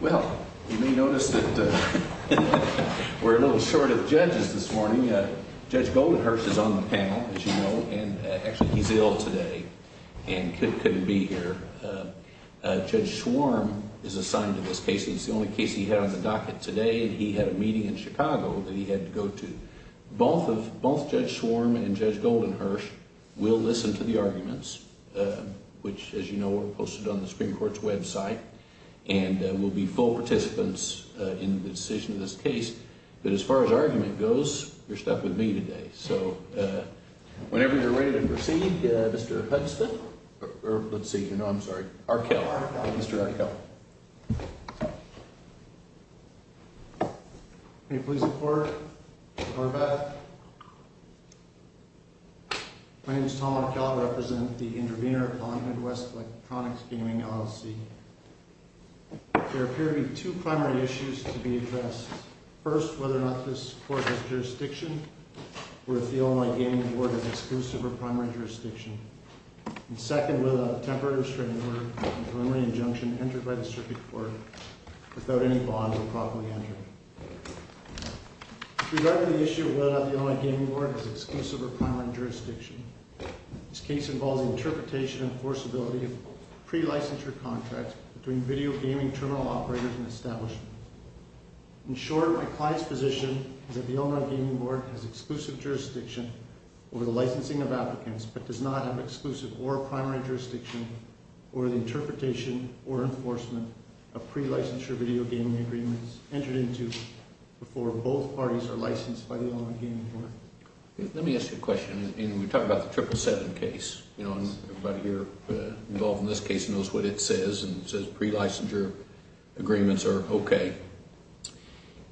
Well, you may notice that we're a little short of judges this morning. Judge Goldenhersch is on the panel, as you know, and actually he's ill today and couldn't be here. Judge Schwarm is assigned to this case. It's the only case he had on the docket today, and he had a meeting in Chicago that he had to go to. Both Judge Schwarm and Judge Goldenhersch will listen to the arguments, which, as you know, were posted on the Supreme Court's website, and will be full participants in the decision of this case. But as far as argument goes, you're stuck with me today. So whenever you're ready to proceed, Mr. Hudson, or let's see, no, I'm sorry, Arkell, Mr. Arkell. Can you please report, Arkell? My name is Tom Arkell. I represent the intervener on Midwest Electronics Gaming, LLC. There appear to be two primary issues to be addressed. First, whether or not this court has jurisdiction, or if the Illinois Gaming Board is exclusive or primary jurisdiction. And second, whether a temporary restraining order or preliminary injunction entered by the circuit court without any bond will properly enter. With regard to the issue of whether or not the Illinois Gaming Board is exclusive or primary jurisdiction, this case involves interpretation and forcibility of pre-licensure contracts between video gaming terminal operators and establishments. In short, my client's position is that the Illinois Gaming Board has exclusive jurisdiction over the licensing of applicants, but does not have exclusive or primary jurisdiction over the interpretation or enforcement of pre-licensure video gaming agreements entered into before both parties are licensed by the Illinois Gaming Board. Let me ask you a question, and we talked about the 777 case, you know, and everybody here involved in this case knows what it says, and it says pre-licensure agreements are okay.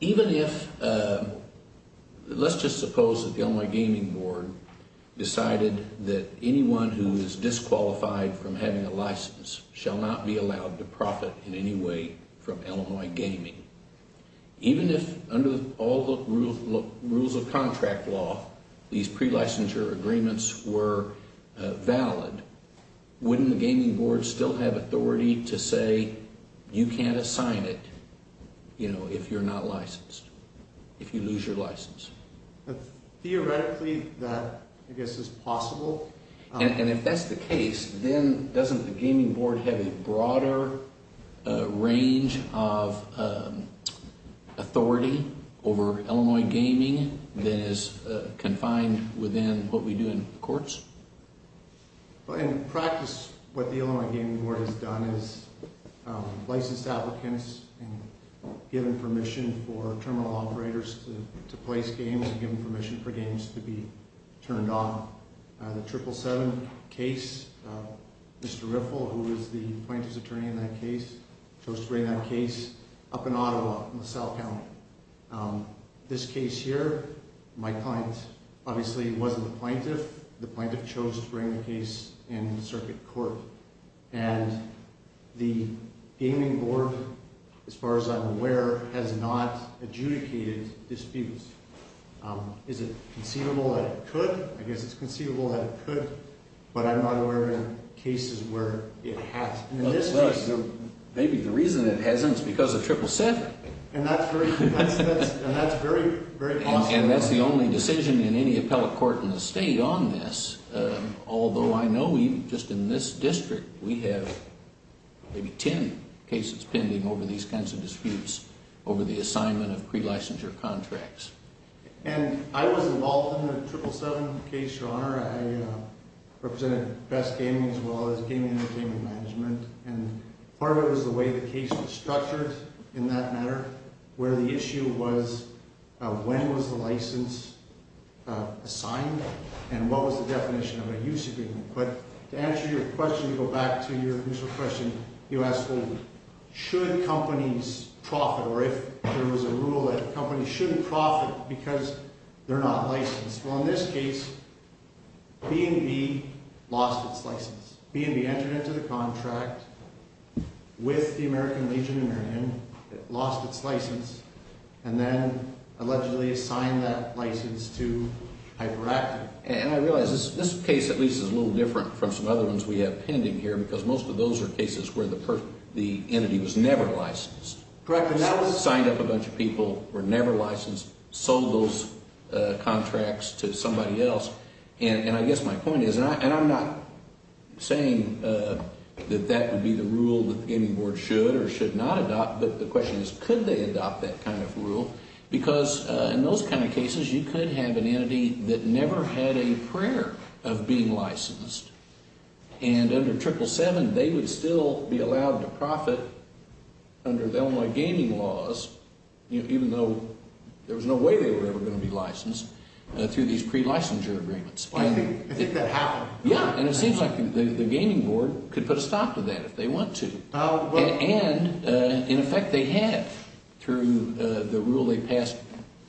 Even if, let's just suppose that the Illinois Gaming Board decided that anyone who is disqualified from having a license shall not be allowed to profit in any way from Illinois Gaming. Even if, under all the rules of contract law, these pre-licensure agreements were valid, wouldn't the gaming board still have authority to say you can't assign it, you know, if you're not licensed, if you lose your license? Theoretically, that, I guess, is possible. And if that's the case, then doesn't the gaming board have a broader range of authority over Illinois Gaming than is confined within what we do in courts? In practice, what the Illinois Gaming Board has done is licensed applicants and given permission for terminal operators to place games and given permission for games to be turned off. The 777 case, Mr. Riffle, who is the plaintiff's attorney in that case, chose to bring that case up in Ottawa, in LaSalle County. This case here, my client obviously wasn't the plaintiff. The plaintiff chose to bring the case in circuit court. And the gaming board, as far as I'm aware, has not adjudicated disputes. Is it conceivable that it could? I guess it's conceivable that it could, but I'm not aware of any cases where it has. Maybe the reason it hasn't is because of 777. And that's very conceivable. And that's the only decision in any appellate court in the state on this. Although I know we, just in this district, we have maybe 10 cases pending over these kinds of disputes over the assignment of pre-licensure contracts. And I was involved in the 777 case, Your Honor. I represented Best Gaming as well as Gaming Entertainment Management. And part of it was the way the case was structured in that matter, where the issue was when was the license assigned and what was the definition of a use agreement. But to answer your question, you go back to your initial question. You asked, well, should companies profit, or if there was a rule that companies shouldn't profit because they're not licensed. Well, in this case, B&B lost its license. B&B entered into the contract with the American Legion in their hand, lost its license, and then allegedly assigned that license to Hyperactive. And I realize this case at least is a little different from some other ones we have pending here because most of those are cases where the entity was never licensed. Correct. Signed up a bunch of people, were never licensed, sold those contracts to somebody else. And I guess my point is, and I'm not saying that that would be the rule that the Gaming Board should or should not adopt. But the question is, could they adopt that kind of rule? Because in those kind of cases, you could have an entity that never had a prayer of being licensed. And under 777, they would still be allowed to profit under the Illinois gaming laws, even though there was no way they were ever going to be licensed through these pre-licensure agreements. I think that happened. Yeah, and it seems like the Gaming Board could put a stop to that if they want to. And, in effect, they have through the rule they passed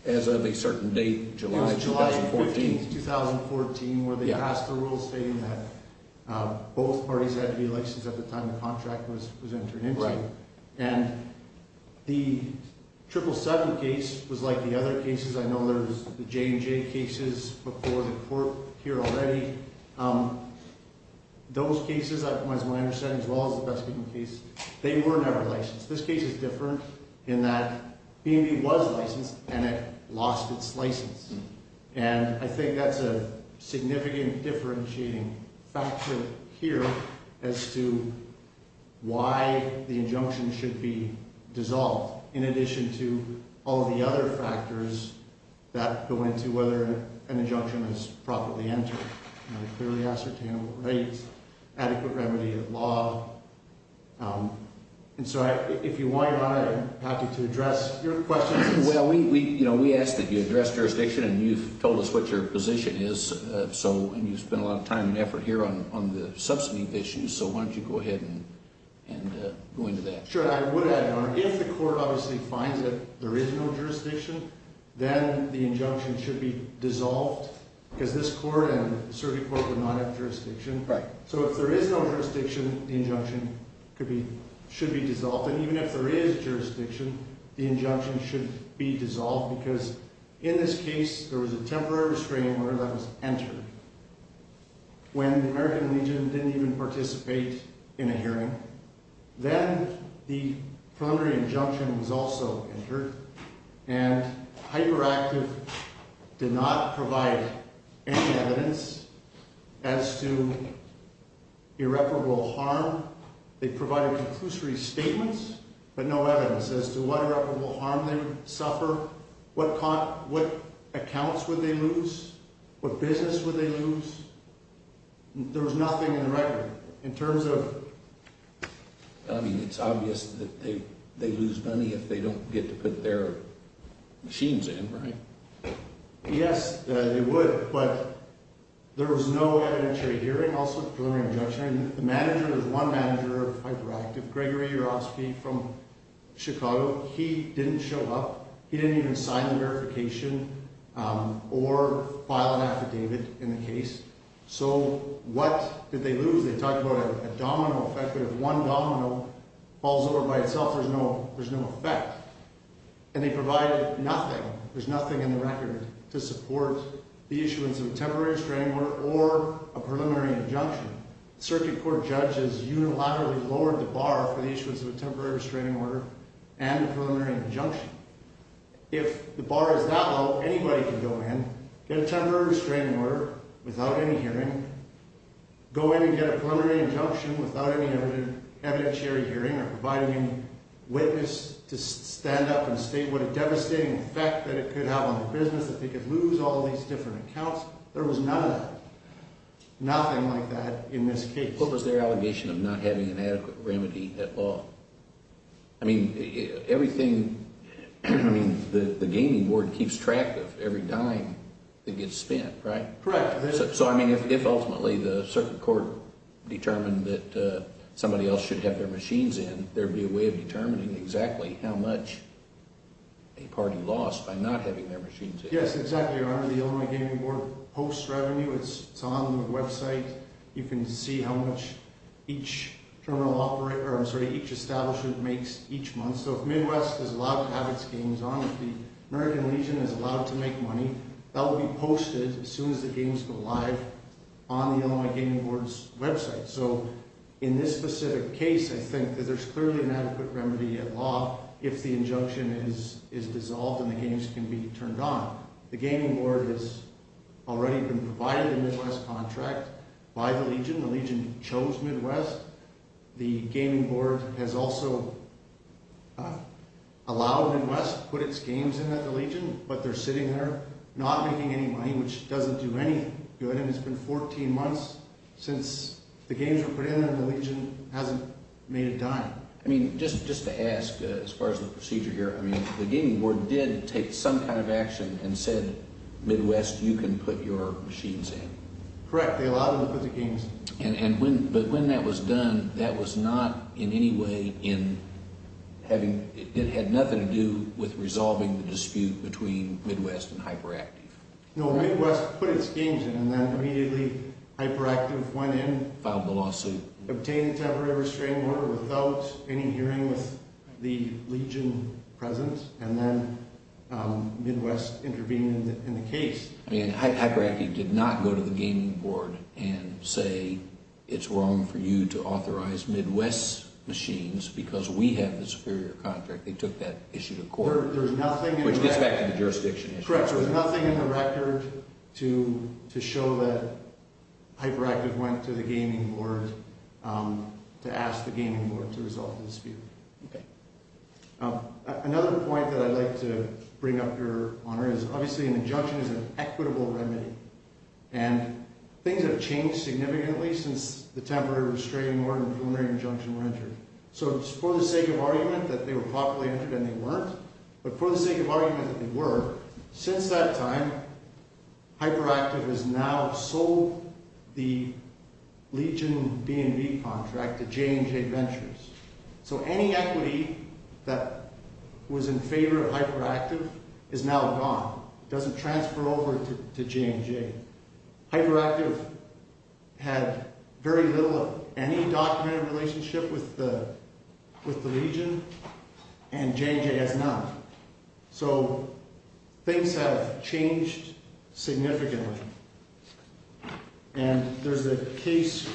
as of a certain date, July 2014. It was July 15, 2014, where they passed the rule stating that both parties had to be licensed at the time the contract was entered into. And the 777 case was like the other cases. I know there's the J&J cases before the court here already. Those cases, as far as I understand, as well as the Baskin case, they were never licensed. This case is different in that B&B was licensed and it lost its license. And I think that's a significant differentiating factor here as to why the injunction should be dissolved, in addition to all the other factors that go into whether an injunction is properly entered. Clearly ascertainable rates, adequate remedy of law. And so if you want, Your Honor, I'd like to address your questions. Well, we asked that you address jurisdiction, and you've told us what your position is. And you've spent a lot of time and effort here on the subsidy issues, so why don't you go ahead and go into that. Sure. I would add, Your Honor, if the court obviously finds that there is no jurisdiction, then the injunction should be dissolved, because this court and the serving court would not have jurisdiction. Right. So if there is no jurisdiction, the injunction should be dissolved. And even if there is jurisdiction, the injunction should be dissolved, because in this case, there was a temporary restraining order that was entered. When the American Legion didn't even participate in a hearing, then the preliminary injunction was also entered, and Hyperactive did not provide any evidence as to irreparable harm. They provided conclusory statements, but no evidence as to what irreparable harm they would suffer, what accounts would they lose, what business would they lose. There was nothing in the record. In terms of, I mean, it's obvious that they lose money if they don't get to put their machines in, right? Yes, they would, but there was no evidentiary hearing. Also, the preliminary injunction, the manager was one manager of Hyperactive, Gregory Urosky from Chicago. He didn't show up. He didn't even sign the verification or file an affidavit in the case. So what did they lose? They talked about a domino effect, but if one domino falls over by itself, there's no effect. And they provided nothing. There's nothing in the record to support the issuance of a temporary restraining order or a preliminary injunction. Circuit court judges unilaterally lowered the bar for the issuance of a temporary restraining order and a preliminary injunction. If the bar is that low, anybody can go in, get a temporary restraining order without any hearing, go in and get a preliminary injunction without any evidentiary hearing or providing any witness to stand up and state what a devastating effect that it could have on their business, that they could lose all these different accounts. There was none of that. Nothing like that in this case. What was their allegation of not having an adequate remedy at law? I mean, everything, I mean, the gaming board keeps track of every dime that gets spent, right? Correct. So, I mean, if ultimately the circuit court determined that somebody else should have their machines in, there would be a way of determining exactly how much a party lost by not having their machines in. Yes, exactly, Your Honor. The Illinois Gaming Board posts revenue. It's on their website. You can see how much each terminal operator, I'm sorry, each establishment makes each month. So if Midwest is allowed to have its games on, if the American Legion is allowed to make money, that will be posted as soon as the games go live on the Illinois Gaming Board's website. So in this specific case, I think that there's clearly an adequate remedy at law if the injunction is dissolved and the games can be turned on. The gaming board has already been provided a Midwest contract by the Legion. The Legion chose Midwest. The gaming board has also allowed Midwest to put its games in at the Legion, but they're sitting there not making any money, which doesn't do any good. It's been 14 months since the games were put in, and the Legion hasn't made a dime. I mean, just to ask, as far as the procedure here, I mean, the gaming board did take some kind of action and said, Midwest, you can put your machines in. Correct. They allowed them to put the games in. But when that was done, that was not in any way in having – it had nothing to do with resolving the dispute between Midwest and HyperActive. No, Midwest put its games in, and then immediately HyperActive went in. Filed the lawsuit. Obtained a temporary restraining order without any hearing with the Legion presence, and then Midwest intervened in the case. I mean, HyperActive did not go to the gaming board and say, it's wrong for you to authorize Midwest's machines because we have the superior contract. They took that issue to court, which gets back to the jurisdiction issue. Correct. So there's nothing in the record to show that HyperActive went to the gaming board to ask the gaming board to resolve the dispute. Another point that I'd like to bring up, Your Honor, is obviously an injunction is an equitable remedy. And things have changed significantly since the temporary restraining order and preliminary injunction were entered. So it's for the sake of argument that they were properly entered, and they weren't. But for the sake of argument that they were, since that time, HyperActive has now sold the Legion B&B contract to J&J Ventures. So any equity that was in favor of HyperActive is now gone. It doesn't transfer over to J&J. HyperActive had very little of any documented relationship with the Legion, and J&J has none. So things have changed significantly. And there's a case,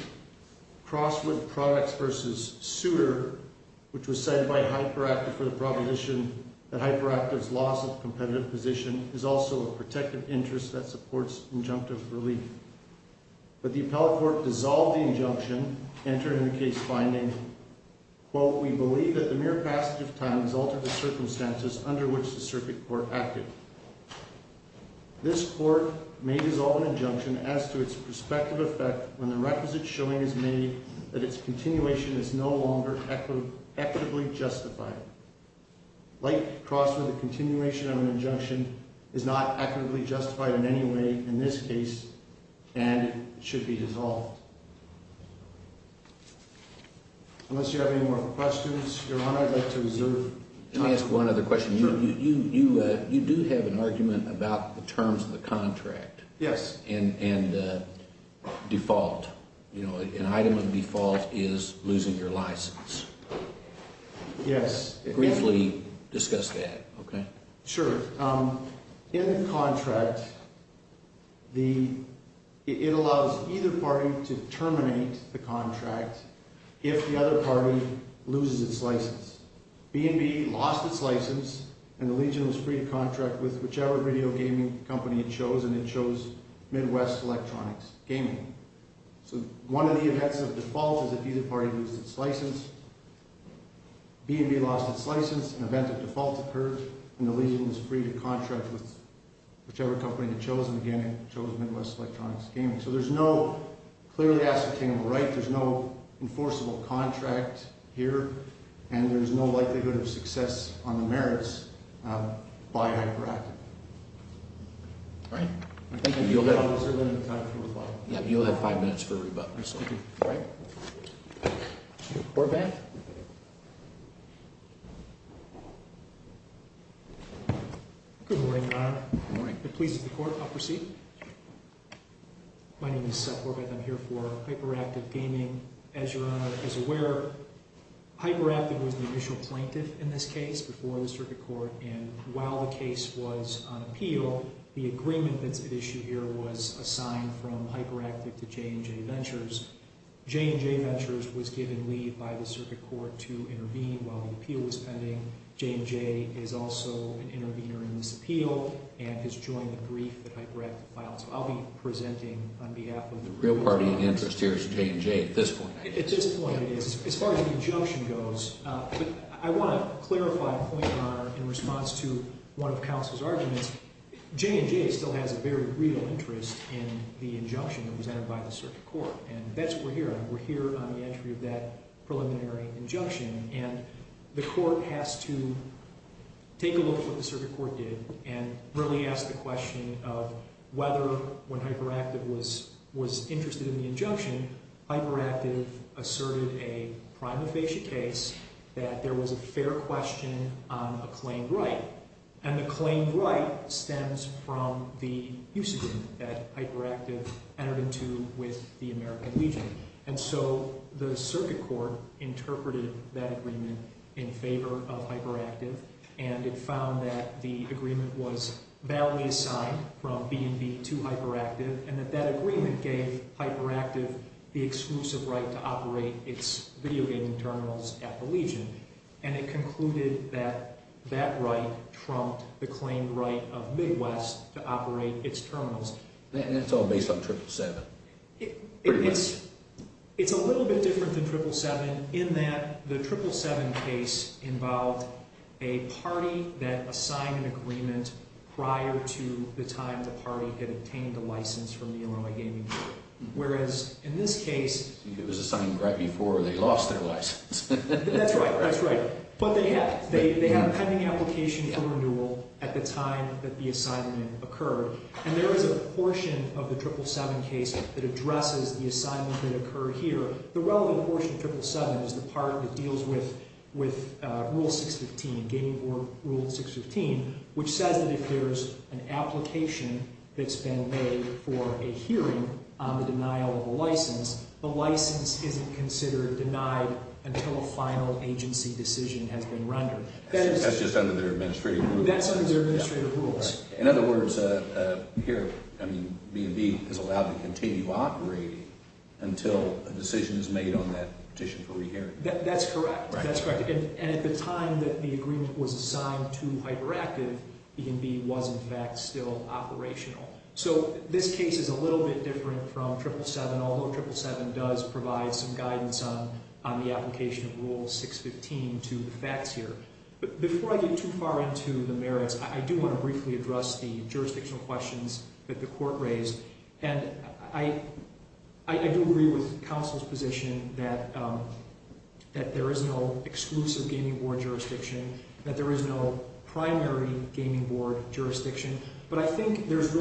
Crosswood Products v. Souter, which was cited by HyperActive for the proposition that HyperActive's loss of competitive position is also a protective interest that supports injunctive relief. But the appellate court dissolved the injunction, entering the case finding, quote, we believe that the mere passage of time has altered the circumstances under which the circuit court acted. This court may dissolve an injunction as to its prospective effect when the requisite showing is made that its continuation is no longer equitably justified. Like Crosswood, the continuation of an injunction is not equitably justified in any way in this case, and it should be dissolved. Unless you have any more questions, Your Honor, I'd like to reserve time. Let me ask one other question. Sure. You do have an argument about the terms of the contract. Yes. And default, you know, an item of default is losing your license. Yes. Briefly discuss that, okay? Sure. In the contract, it allows either party to terminate the contract if the other party loses its license. B&B lost its license, and the Legion was free to contract with whichever video gaming company it chose, and it chose Midwest Electronics Gaming. So one of the events of default is if either party loses its license. B&B lost its license. An event of default occurred, and the Legion was free to contract with whichever company it chose, and, again, it chose Midwest Electronics Gaming. So there's no clearly ascertainable right. There's no enforceable contract here, and there's no likelihood of success on the merits by hyperactive. All right. Thank you. You'll have five minutes for rebuttal. All right. Horvath? Good morning, Your Honor. Good morning. If it pleases the court, I'll proceed. My name is Seth Horvath. I'm here for Hyperactive Gaming. As Your Honor is aware, Hyperactive was the initial plaintiff in this case before the circuit court, and while the case was on appeal, the agreement that's at issue here was a sign from Hyperactive to J&J Ventures. J&J Ventures was given leave by the circuit court to intervene while the appeal was pending. J&J is also an intervener in this appeal and has joined the brief that Hyperactive filed. So I'll be presenting on behalf of the real party in interest here is J&J at this point. At this point, it is. As far as the injunction goes, I want to clarify a point, Your Honor, in response to one of the counsel's arguments. J&J still has a very real interest in the injunction that was entered by the circuit court, and that's what we're here on. We're here on the entry of that preliminary injunction, and the court has to take a look at what the circuit court did and really ask the question of whether, when Hyperactive was interested in the injunction, Hyperactive asserted a prima facie case that there was a fair question on a claimed right, and the claimed right stems from the use agreement that Hyperactive entered into with the American Legion, and so the circuit court interpreted that agreement in favor of Hyperactive, and it found that the agreement was validly assigned from B&B to Hyperactive and that that agreement gave Hyperactive the exclusive right to operate its video gaming terminals at the Legion, and it concluded that that right trumped the claimed right of Midwest to operate its terminals. And that's all based on 777? It's a little bit different than 777 in that the 777 case involved a party that assigned an agreement prior to the time the party had obtained the license from the Illinois Gaming Board, whereas in this case... It was assigned right before they lost their license. That's right, that's right. But they had a pending application for renewal at the time that the assignment occurred, and there is a portion of the 777 case that addresses the assignment that occurred here. The relevant portion of 777 is the part that deals with Rule 615, Gaming Board Rule 615, which says that if there's an application that's been made for a hearing on the denial of a license, the license isn't considered denied until a final agency decision has been rendered. That's just under their administrative rules? That's under their administrative rules. In other words, B&B is allowed to continue operating until a decision is made on that petition for re-hearing. That's correct, that's correct. And at the time that the agreement was assigned to Hyperactive, B&B was in fact still operational. So this case is a little bit different from 777, although 777 does provide some guidance on the application of Rule 615 to the facts here. But before I get too far into the merits, I do want to briefly address the jurisdictional questions that the court raised. And I do agree with counsel's position that there is no exclusive Gaming Board jurisdiction, that there is no primary Gaming Board jurisdiction, but I think there's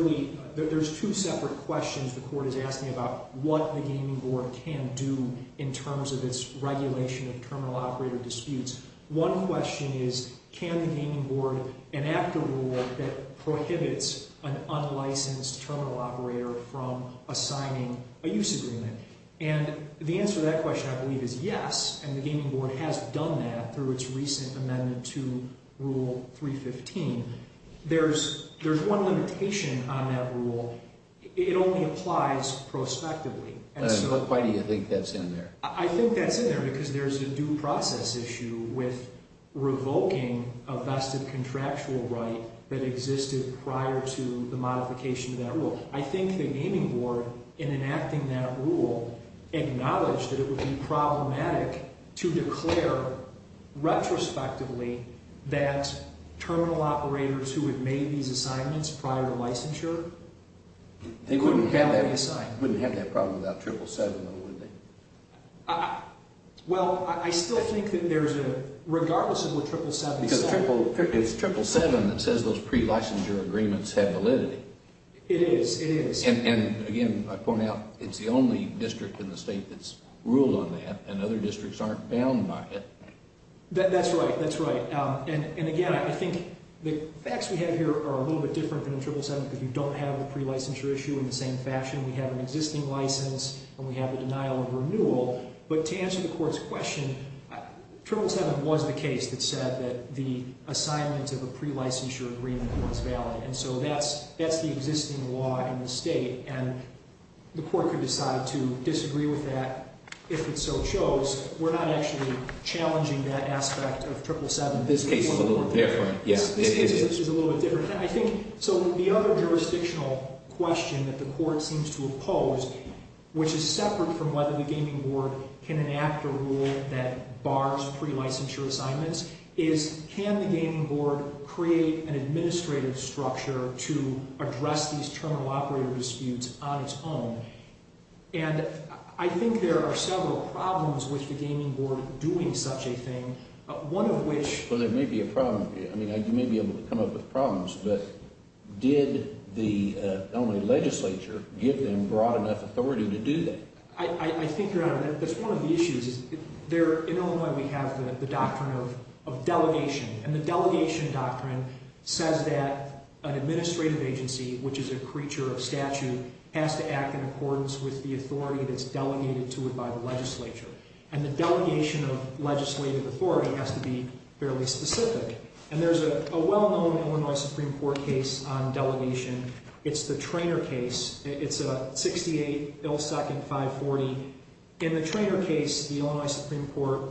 two separate questions the court is asking about what the Gaming Board can do in terms of its regulation of terminal operator disputes. One question is, can the Gaming Board enact a rule that prohibits an unlicensed terminal operator from assigning a use agreement? And the answer to that question, I believe, is yes, and the Gaming Board has done that through its recent amendment to Rule 315. There's one limitation on that rule. It only applies prospectively. Why do you think that's in there? I think that's in there because there's a due process issue with revoking a vested contractual right that existed prior to the modification of that rule. acknowledged that it would be problematic to declare retrospectively that terminal operators who had made these assignments prior to licensure They wouldn't have that problem without Triple 7, though, would they? Well, I still think that there's a, regardless of what Triple 7 said. Because it's Triple 7 that says those pre-licensure agreements have validity. It is, it is. And again, I point out, it's the only district in the state that's ruled on that, and other districts aren't bound by it. That's right, that's right. And again, I think the facts we have here are a little bit different than in Triple 7 because you don't have the pre-licensure issue in the same fashion. We have an existing license, and we have a denial of renewal. But to answer the Court's question, Triple 7 was the case that said that the assignment of a pre-licensure agreement was valid. And so that's the existing law in the state. And the Court could decide to disagree with that if it so chose. We're not actually challenging that aspect of Triple 7. This case is a little bit different. This case is a little bit different. So the other jurisdictional question that the Court seems to oppose, which is separate from whether the Gaming Board can enact a rule that bars pre-licensure assignments, is can the Gaming Board create an administrative structure to address these terminal operator disputes on its own? And I think there are several problems with the Gaming Board doing such a thing, one of which— Well, there may be a problem. I mean, you may be able to come up with problems, but did the Illinois legislature give them broad enough authority to do that? I think you're out of—that's one of the issues. In Illinois, we have the doctrine of delegation, and the delegation doctrine says that an administrative agency, which is a creature of statute, has to act in accordance with the authority that's delegated to it by the legislature. And the delegation of legislative authority has to be fairly specific. And there's a well-known Illinois Supreme Court case on delegation. It's the Traynor case. It's a 68-ill-second-540. In the Traynor case, the Illinois Supreme Court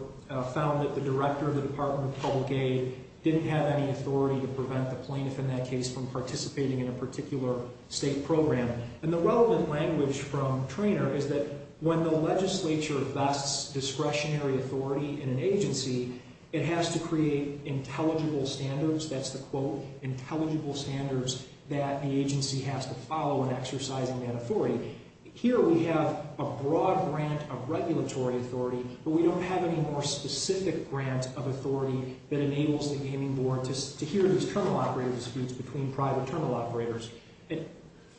found that the director of the Department of Public Aid didn't have any authority to prevent the plaintiff in that case from participating in a particular state program. And the relevant language from Traynor is that when the legislature vests discretionary authority in an agency, it has to create intelligible standards—that's the quote— intelligible standards that the agency has to follow in exercising that authority. Here we have a broad grant of regulatory authority, but we don't have any more specific grant of authority that enables the gaming board to hear these terminal operator disputes between private terminal operators.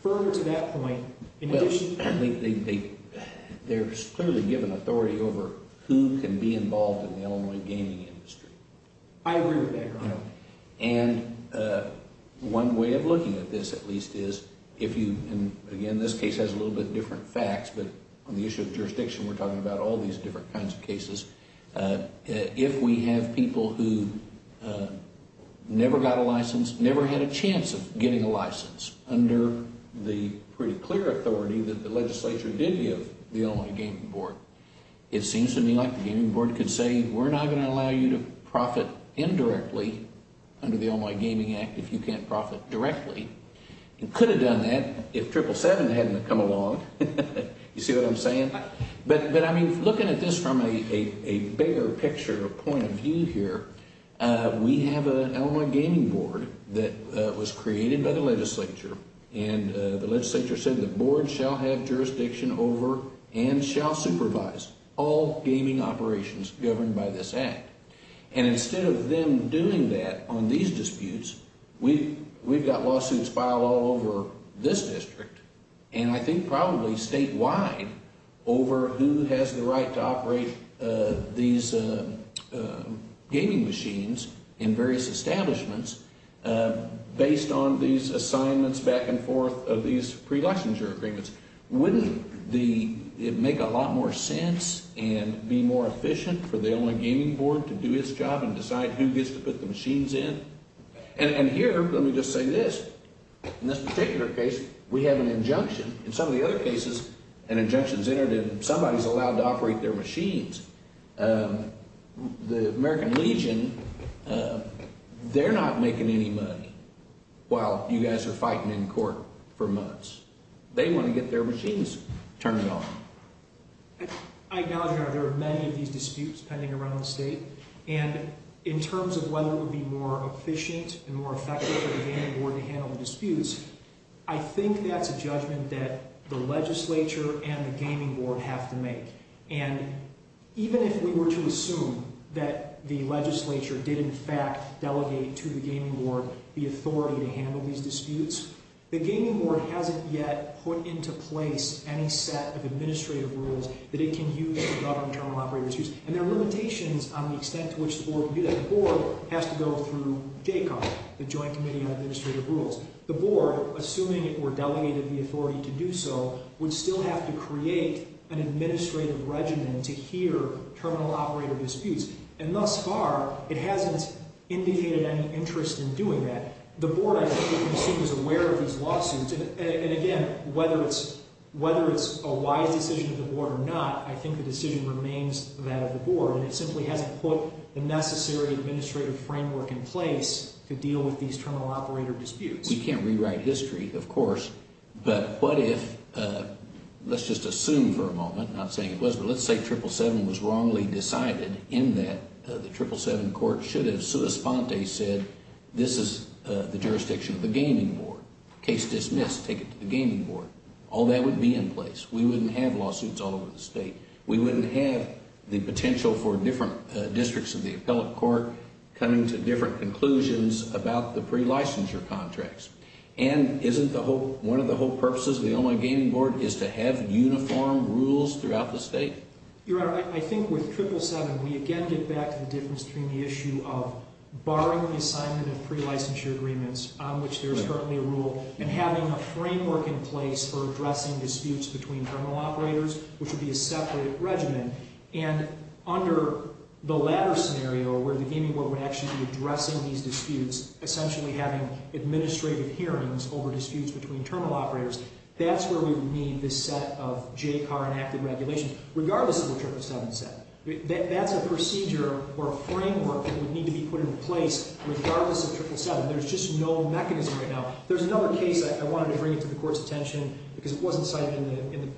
Further to that point, in addition— Well, they're clearly given authority over who can be involved in the Illinois gaming industry. I agree with that, Your Honor. And one way of looking at this, at least, is if you— these are a little bit different facts, but on the issue of jurisdiction, we're talking about all these different kinds of cases. If we have people who never got a license, never had a chance of getting a license, under the pretty clear authority that the legislature did give the Illinois gaming board, it seems to me like the gaming board could say, we're not going to allow you to profit indirectly under the Illinois Gaming Act if you can't profit directly. It could have done that if 777 hadn't come along. You see what I'm saying? But, I mean, looking at this from a bigger picture point of view here, we have an Illinois gaming board that was created by the legislature, and the legislature said the board shall have jurisdiction over and shall supervise all gaming operations governed by this act. And instead of them doing that on these disputes, we've got lawsuits filed all over this district, and I think probably statewide, over who has the right to operate these gaming machines in various establishments based on these assignments back and forth of these pre-legislature agreements. Wouldn't it make a lot more sense and be more efficient for the Illinois gaming board to do its job and decide who gets to put the machines in? And here, let me just say this, in this particular case, we have an injunction. In some of the other cases, an injunction's entered and somebody's allowed to operate their machines. The American Legion, they're not making any money while you guys are fighting in court for months. They want to get their machines turned on. I acknowledge, Your Honor, there are many of these disputes pending around the state, and in terms of whether it would be more efficient and more effective for the gaming board to handle the disputes, I think that's a judgment that the legislature and the gaming board have to make. And even if we were to assume that the legislature did in fact delegate to the gaming board the authority to handle these disputes, the gaming board hasn't yet put into place any set of administrative rules that it can use to govern terminal operators. And there are limitations on the extent to which the board can do that. The board has to go through JCAR, the Joint Committee on Administrative Rules. The board, assuming it were delegated the authority to do so, would still have to create an administrative regimen to hear terminal operator disputes. And thus far, it hasn't indicated any interest in doing that. The board, I think, is aware of these lawsuits, and again, whether it's a wise decision of the board or not, I think the decision remains that of the board. And it simply hasn't put the necessary administrative framework in place to deal with these terminal operator disputes. We can't rewrite history, of course, but what if, let's just assume for a moment, not saying it was, but let's say 777 was wrongly decided in that the 777 court should have sui sponte said, this is the jurisdiction of the gaming board. Case dismissed, take it to the gaming board. All that would be in place. We wouldn't have lawsuits all over the state. We wouldn't have the potential for different districts of the appellate court coming to different conclusions about the pre-licensure contracts. And isn't one of the whole purposes of the Illinois Gaming Board is to have uniform rules throughout the state? Your Honor, I think with 777, we again get back to the difference between the issue of barring the assignment of pre-licensure agreements, on which there is currently a rule, and having a framework in place for addressing disputes between terminal operators, which would be a separate regimen. And under the latter scenario, where the gaming board would actually be addressing these disputes, essentially having administrative hearings over disputes between terminal operators, that's where we would need this set of JCAR enacted regulations, regardless of the 777. That's a procedure or a framework that would need to be put in place regardless of 777. There's just no mechanism right now. There's another case, I wanted to bring it to the court's attention, because it wasn't cited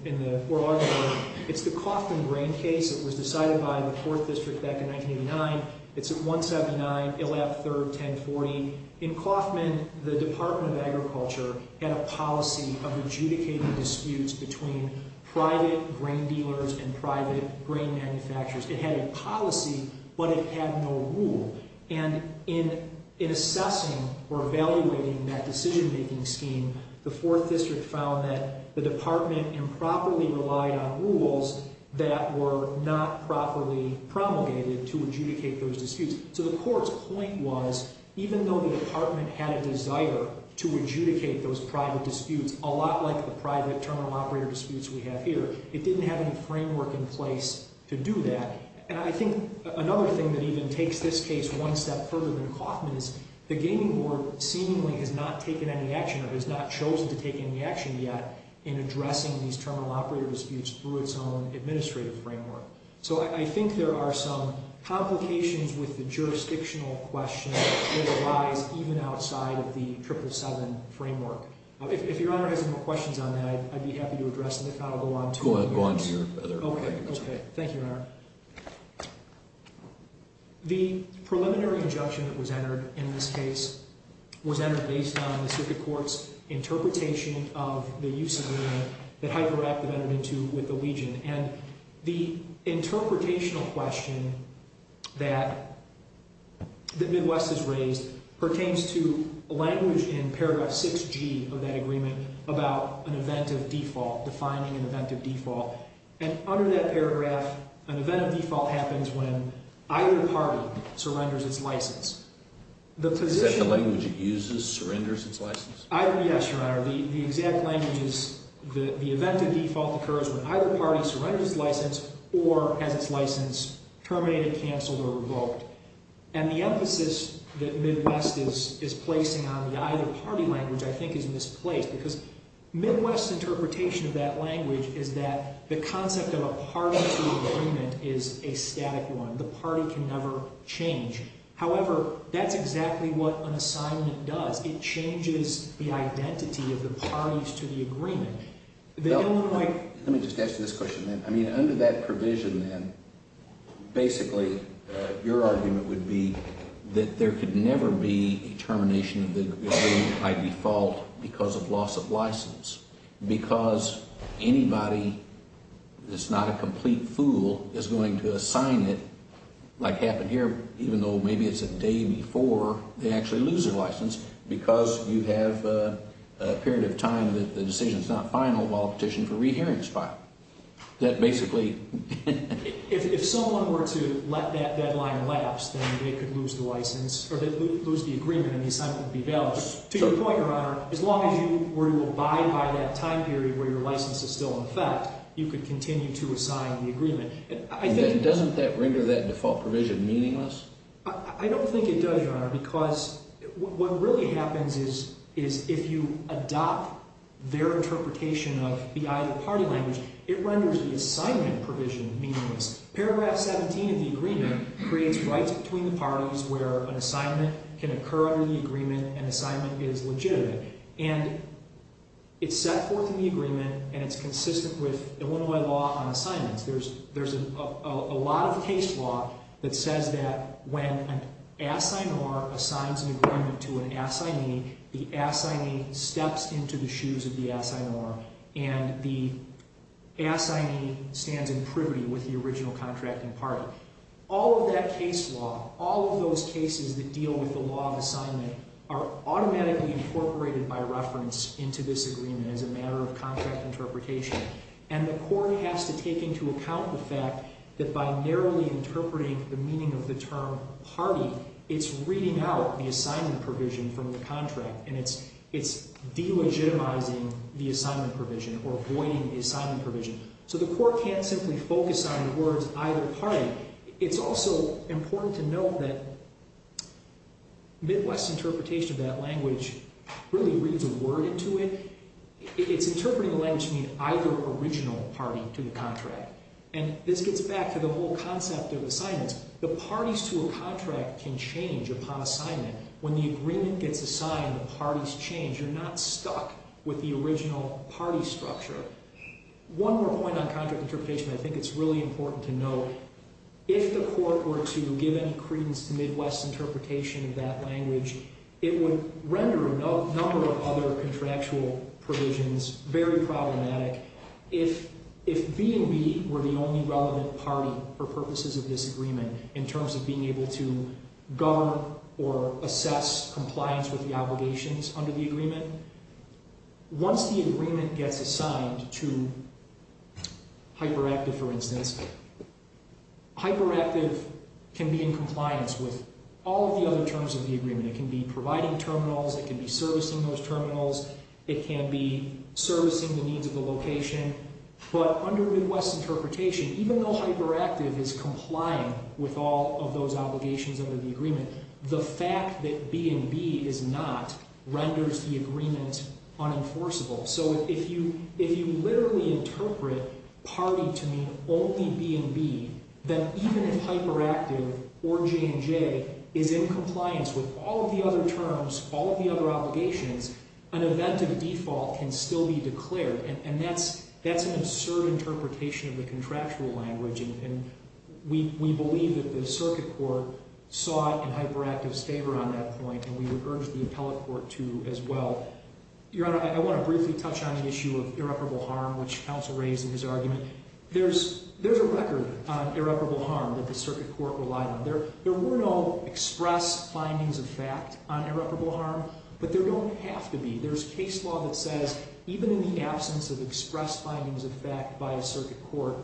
in the oral argument. It's the Kauffman grain case. It was decided by the court district back in 1989. It's at 179, ILAP 3rd, 1040. In Kauffman, the Department of Agriculture had a policy of adjudicating disputes between private grain dealers and private grain manufacturers. It had a policy, but it had no rule. And in assessing or evaluating that decision-making scheme, the fourth district found that the department improperly relied on rules that were not properly promulgated to adjudicate those disputes. So the court's point was, even though the department had a desire to adjudicate those private disputes, a lot like the private terminal operator disputes we have here, it didn't have any framework in place to do that. And I think another thing that even takes this case one step further than Kauffman is, the gaming board seemingly has not taken any action, or has not chosen to take any action yet, in addressing these terminal operator disputes through its own administrative framework. So I think there are some complications with the jurisdictional question that arise even outside of the 777 framework. If Your Honor has any more questions on that, I'd be happy to address them. If not, I'll go on to the other questions. Thank you, Your Honor. The preliminary injunction that was entered in this case was entered based on the Circuit Court's interpretation of the use of the word that Hyperactive entered into with the Legion. And the interpretational question that Midwest has raised pertains to a language in paragraph 6G of that agreement about an event of default, defining an event of default. And under that paragraph, an event of default happens when either party surrenders its license. Is that the language it uses, surrenders its license? Yes, Your Honor. The exact language is, the event of default occurs when either party surrenders its license, or has its license terminated, canceled, or revoked. And the emphasis that Midwest is placing on the either party language, I think, is misplaced. Because Midwest's interpretation of that language is that the concept of a party-to-agreement is a static one. The party can never change. However, that's exactly what an assignment does. It changes the identity of the parties to the agreement. Let me just answer this question, then. I mean, under that provision, then, basically, your argument would be that there could never be a termination of the agreement by default because of loss of license. Because anybody that's not a complete fool is going to assign it, like happened here, even though maybe it's a day before they actually lose their license, because you have a period of time that the decision's not final while petitioned for re-hearings file. That basically... If someone were to let that deadline lapse, then they could lose the license, or they'd lose the agreement, and the assignment would be valid. To your point, Your Honor, as long as you were to abide by that time period where your license is still in effect, you could continue to assign the agreement. And doesn't that render that default provision meaningless? I don't think it does, Your Honor, because what really happens is if you adopt their interpretation of the either party language, it renders the assignment provision meaningless. Paragraph 17 of the agreement creates rights between the parties where an assignment can occur under the agreement, and assignment is legitimate. And it's set forth in the agreement, and it's consistent with Illinois law on assignments. There's a lot of case law that says that when an assignee assigns an agreement to an assignee, the assignee steps into the shoes of the assignor, and the assignee stands in privity with the original contracting party. All of that case law, all of those cases that deal with the law of assignment, are automatically incorporated by reference into this agreement as a matter of contract interpretation. And the court has to take into account the fact that by narrowly interpreting the meaning of the term party, it's reading out the assignment provision from the contract, and it's delegitimizing the assignment provision, or voiding the assignment provision. So the court can't simply focus on the words either party. It's also important to note that Midwest's interpretation of that language really reads a word into it. It's interpreting the language meaning either original party to the contract. And this gets back to the whole concept of assignments. The parties to a contract can change upon assignment. When the agreement gets assigned, the parties change. You're not stuck with the original party structure. One more point on contract interpretation I think it's really important to note. If the court were to give any credence to Midwest's interpretation of that language, it would render a number of other contractual provisions very problematic. If B&B were the only relevant party for purposes of this agreement in terms of being able to govern or assess compliance with the obligations under the agreement, once the agreement gets assigned to Hyperactive, for instance, Hyperactive can be in compliance with all of the other terms of the agreement. It can be providing terminals. It can be servicing those terminals. It can be servicing the needs of the location. But under Midwest's interpretation, even though Hyperactive is complying with all of those obligations under the agreement, the fact that B&B is not renders the agreement unenforceable. So if you literally interpret party to mean only B&B, then even if Hyperactive or J&J is in compliance with all of the other terms, all of the other obligations, an event of default can still be declared, and that's an absurd interpretation of the contractual language, and we believe that the circuit court saw it in Hyperactive's favor on that point, and we would urge the appellate court to as well. Your Honor, I want to briefly touch on the issue of irreparable harm, which counsel raised in his argument. There's a record on irreparable harm that the circuit court relied on. There were no express findings of fact on irreparable harm, but there don't have to be. There's case law that says even in the absence of express findings of fact by a circuit court,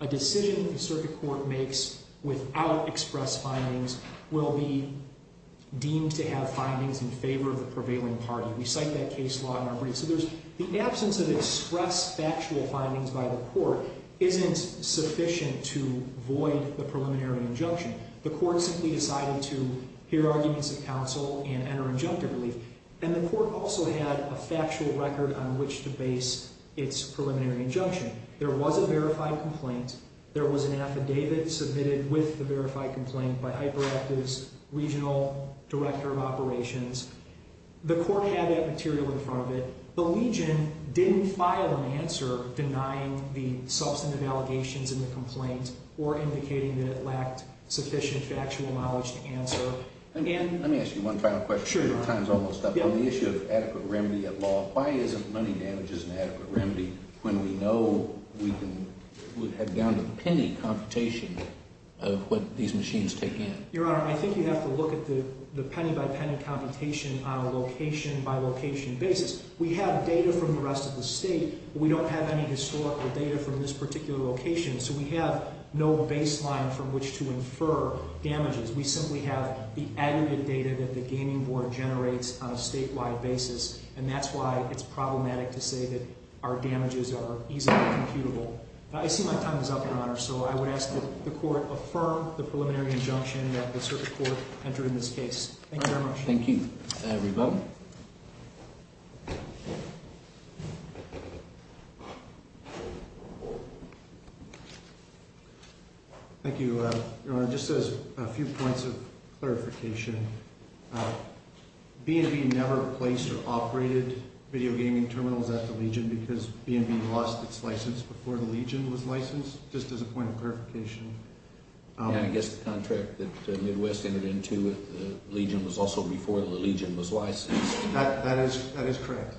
a decision the circuit court makes without express findings will be deemed to have findings in favor of the prevailing party. We cite that case law in our briefs. The absence of express factual findings by the court isn't sufficient to void the preliminary injunction. The court simply decided to hear arguments of counsel and enter injunctive relief, and the court also had a factual record on which to base its preliminary injunction. There was a verified complaint. There was an affidavit submitted with the verified complaint by Hyperactive's regional director of operations. The court had that material in front of it. The legion didn't file an answer denying the substantive allegations in the complaint or indicating that it lacked sufficient factual knowledge to answer. Let me ask you one final question. Your time's almost up. On the issue of adequate remedy at law, why isn't money damages an adequate remedy when we know we can have down-to-penny computation of what these machines take in? Your Honor, I think you have to look at the penny-by-penny computation on a location-by-location basis. We have data from the rest of the state. We don't have any historical data from this particular location, so we have no baseline from which to infer damages. We simply have the aggregate data that the gaming board generates on a statewide basis, and that's why it's problematic to say that our damages are easily computable. I see my time is up, Your Honor, so I would ask that the court affirm the preliminary injunction that the circuit court enter in this case. Thank you very much. Thank you. Thank you, Your Honor. Just as a few points of clarification, B&B never placed or operated video gaming terminals at the legion because B&B lost its license before the legion was licensed, just as a point of clarification. Yeah, I guess the contract that Midwest entered into with the legion was also before the legion was licensed. That is correct.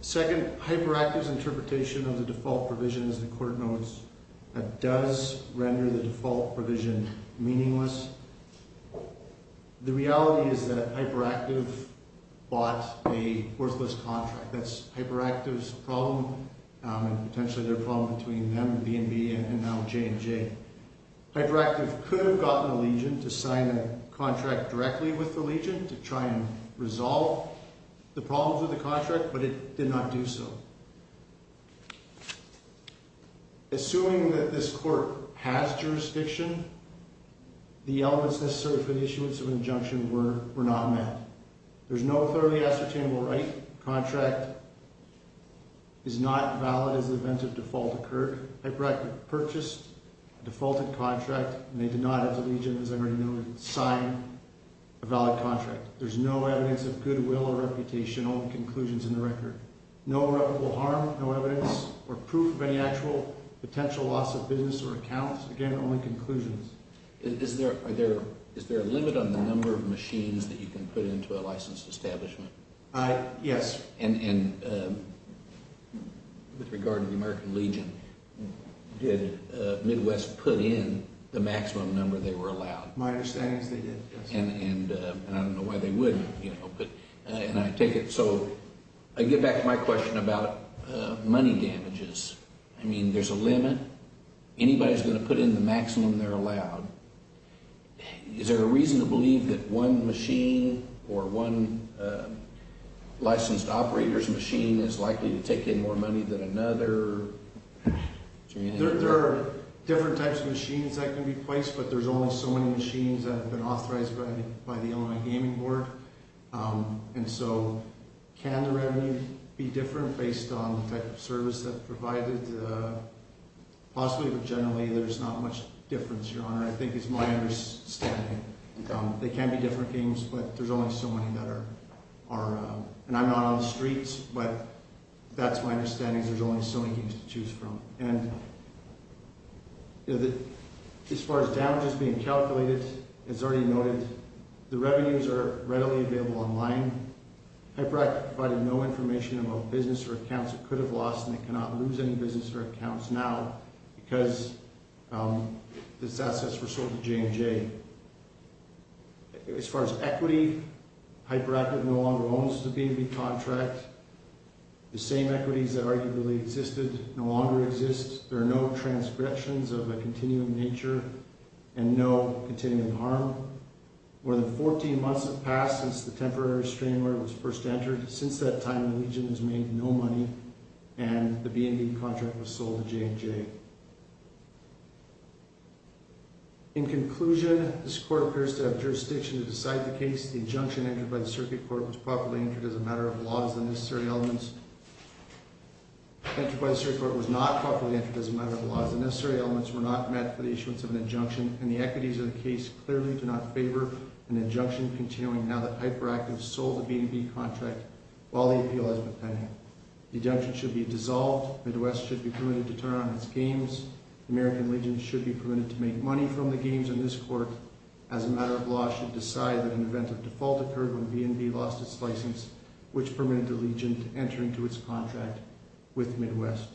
Second, HyperActive's interpretation of the default provision, as the court notes, does render the default provision meaningless. The reality is that HyperActive bought a worthless contract. That's HyperActive's problem and potentially their problem between them and B&B and now J&J. HyperActive could have gotten the legion to sign a contract directly with the legion to try and resolve the problems of the contract, but it did not do so. Assuming that this court has jurisdiction, the elements necessary for the issuance of an injunction were not met. There's no thoroughly ascertainable right. The contract is not valid as the event of default occurred. HyperActive purchased a defaulted contract and they did not, as the legion, as I already know, sign a valid contract. There's no evidence of goodwill or reputational conclusions in the record. No irreparable harm, no evidence or proof of any actual potential loss of business or accounts. Again, only conclusions. Is there a limit on the number of machines that you can put into a licensed establishment? Yes. And with regard to the American Legion, did Midwest put in the maximum number they were allowed? My understanding is they did, yes. And I don't know why they wouldn't, you know. So I get back to my question about money damages. I mean, there's a limit. Anybody's going to put in the maximum they're allowed. Is there a reason to believe that one machine or one licensed operator's machine is likely to take in more money than another? There are different types of machines that can be placed, but there's only so many machines that have been authorized by the Illinois Gaming Board. And so can the revenue be different based on the type of service that's provided? Possibly, but generally there's not much difference, Your Honor. I think it's my understanding. They can be different games, but there's only so many that are, and I'm not on the streets, but that's my understanding is there's only so many games to choose from. And as far as damages being calculated, as already noted, the revenues are readily available online. Hyperactive provided no information about business or accounts it could have lost, and it cannot lose any business or accounts now because these assets were sold to J&J. As far as equity, Hyperactive no longer owns the B&B contract. The same equities that arguably existed no longer exist. There are no transgressions of a continuing nature and no continuing harm. More than 14 months have passed since the temporary strain order was first entered. Since that time, Legion has made no money, and the B&B contract was sold to J&J. In conclusion, this court appears to have jurisdiction to decide the case. The injunction entered by the Circuit Court was properly entered as a matter of law as the necessary elements were not met for the issuance of an injunction, and the equities of the case clearly do not favor an injunction continuing now that Hyperactive sold the B&B contract while the appeal has been pending. The injunction should be dissolved. Midwest should be permitted to turn on its games. The American Legion should be permitted to make money from the games, and this court, as a matter of law, should decide that an event of default occurred when B&B lost its license, which permitted the Legion to enter into its contract with Midwest.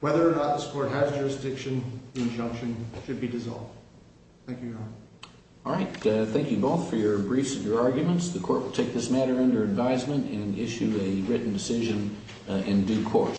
Whether or not this court has jurisdiction, the injunction should be dissolved. Thank you, Your Honor. All right, thank you both for your briefs and your arguments. The court will take this matter under advisement and issue a written decision in due course.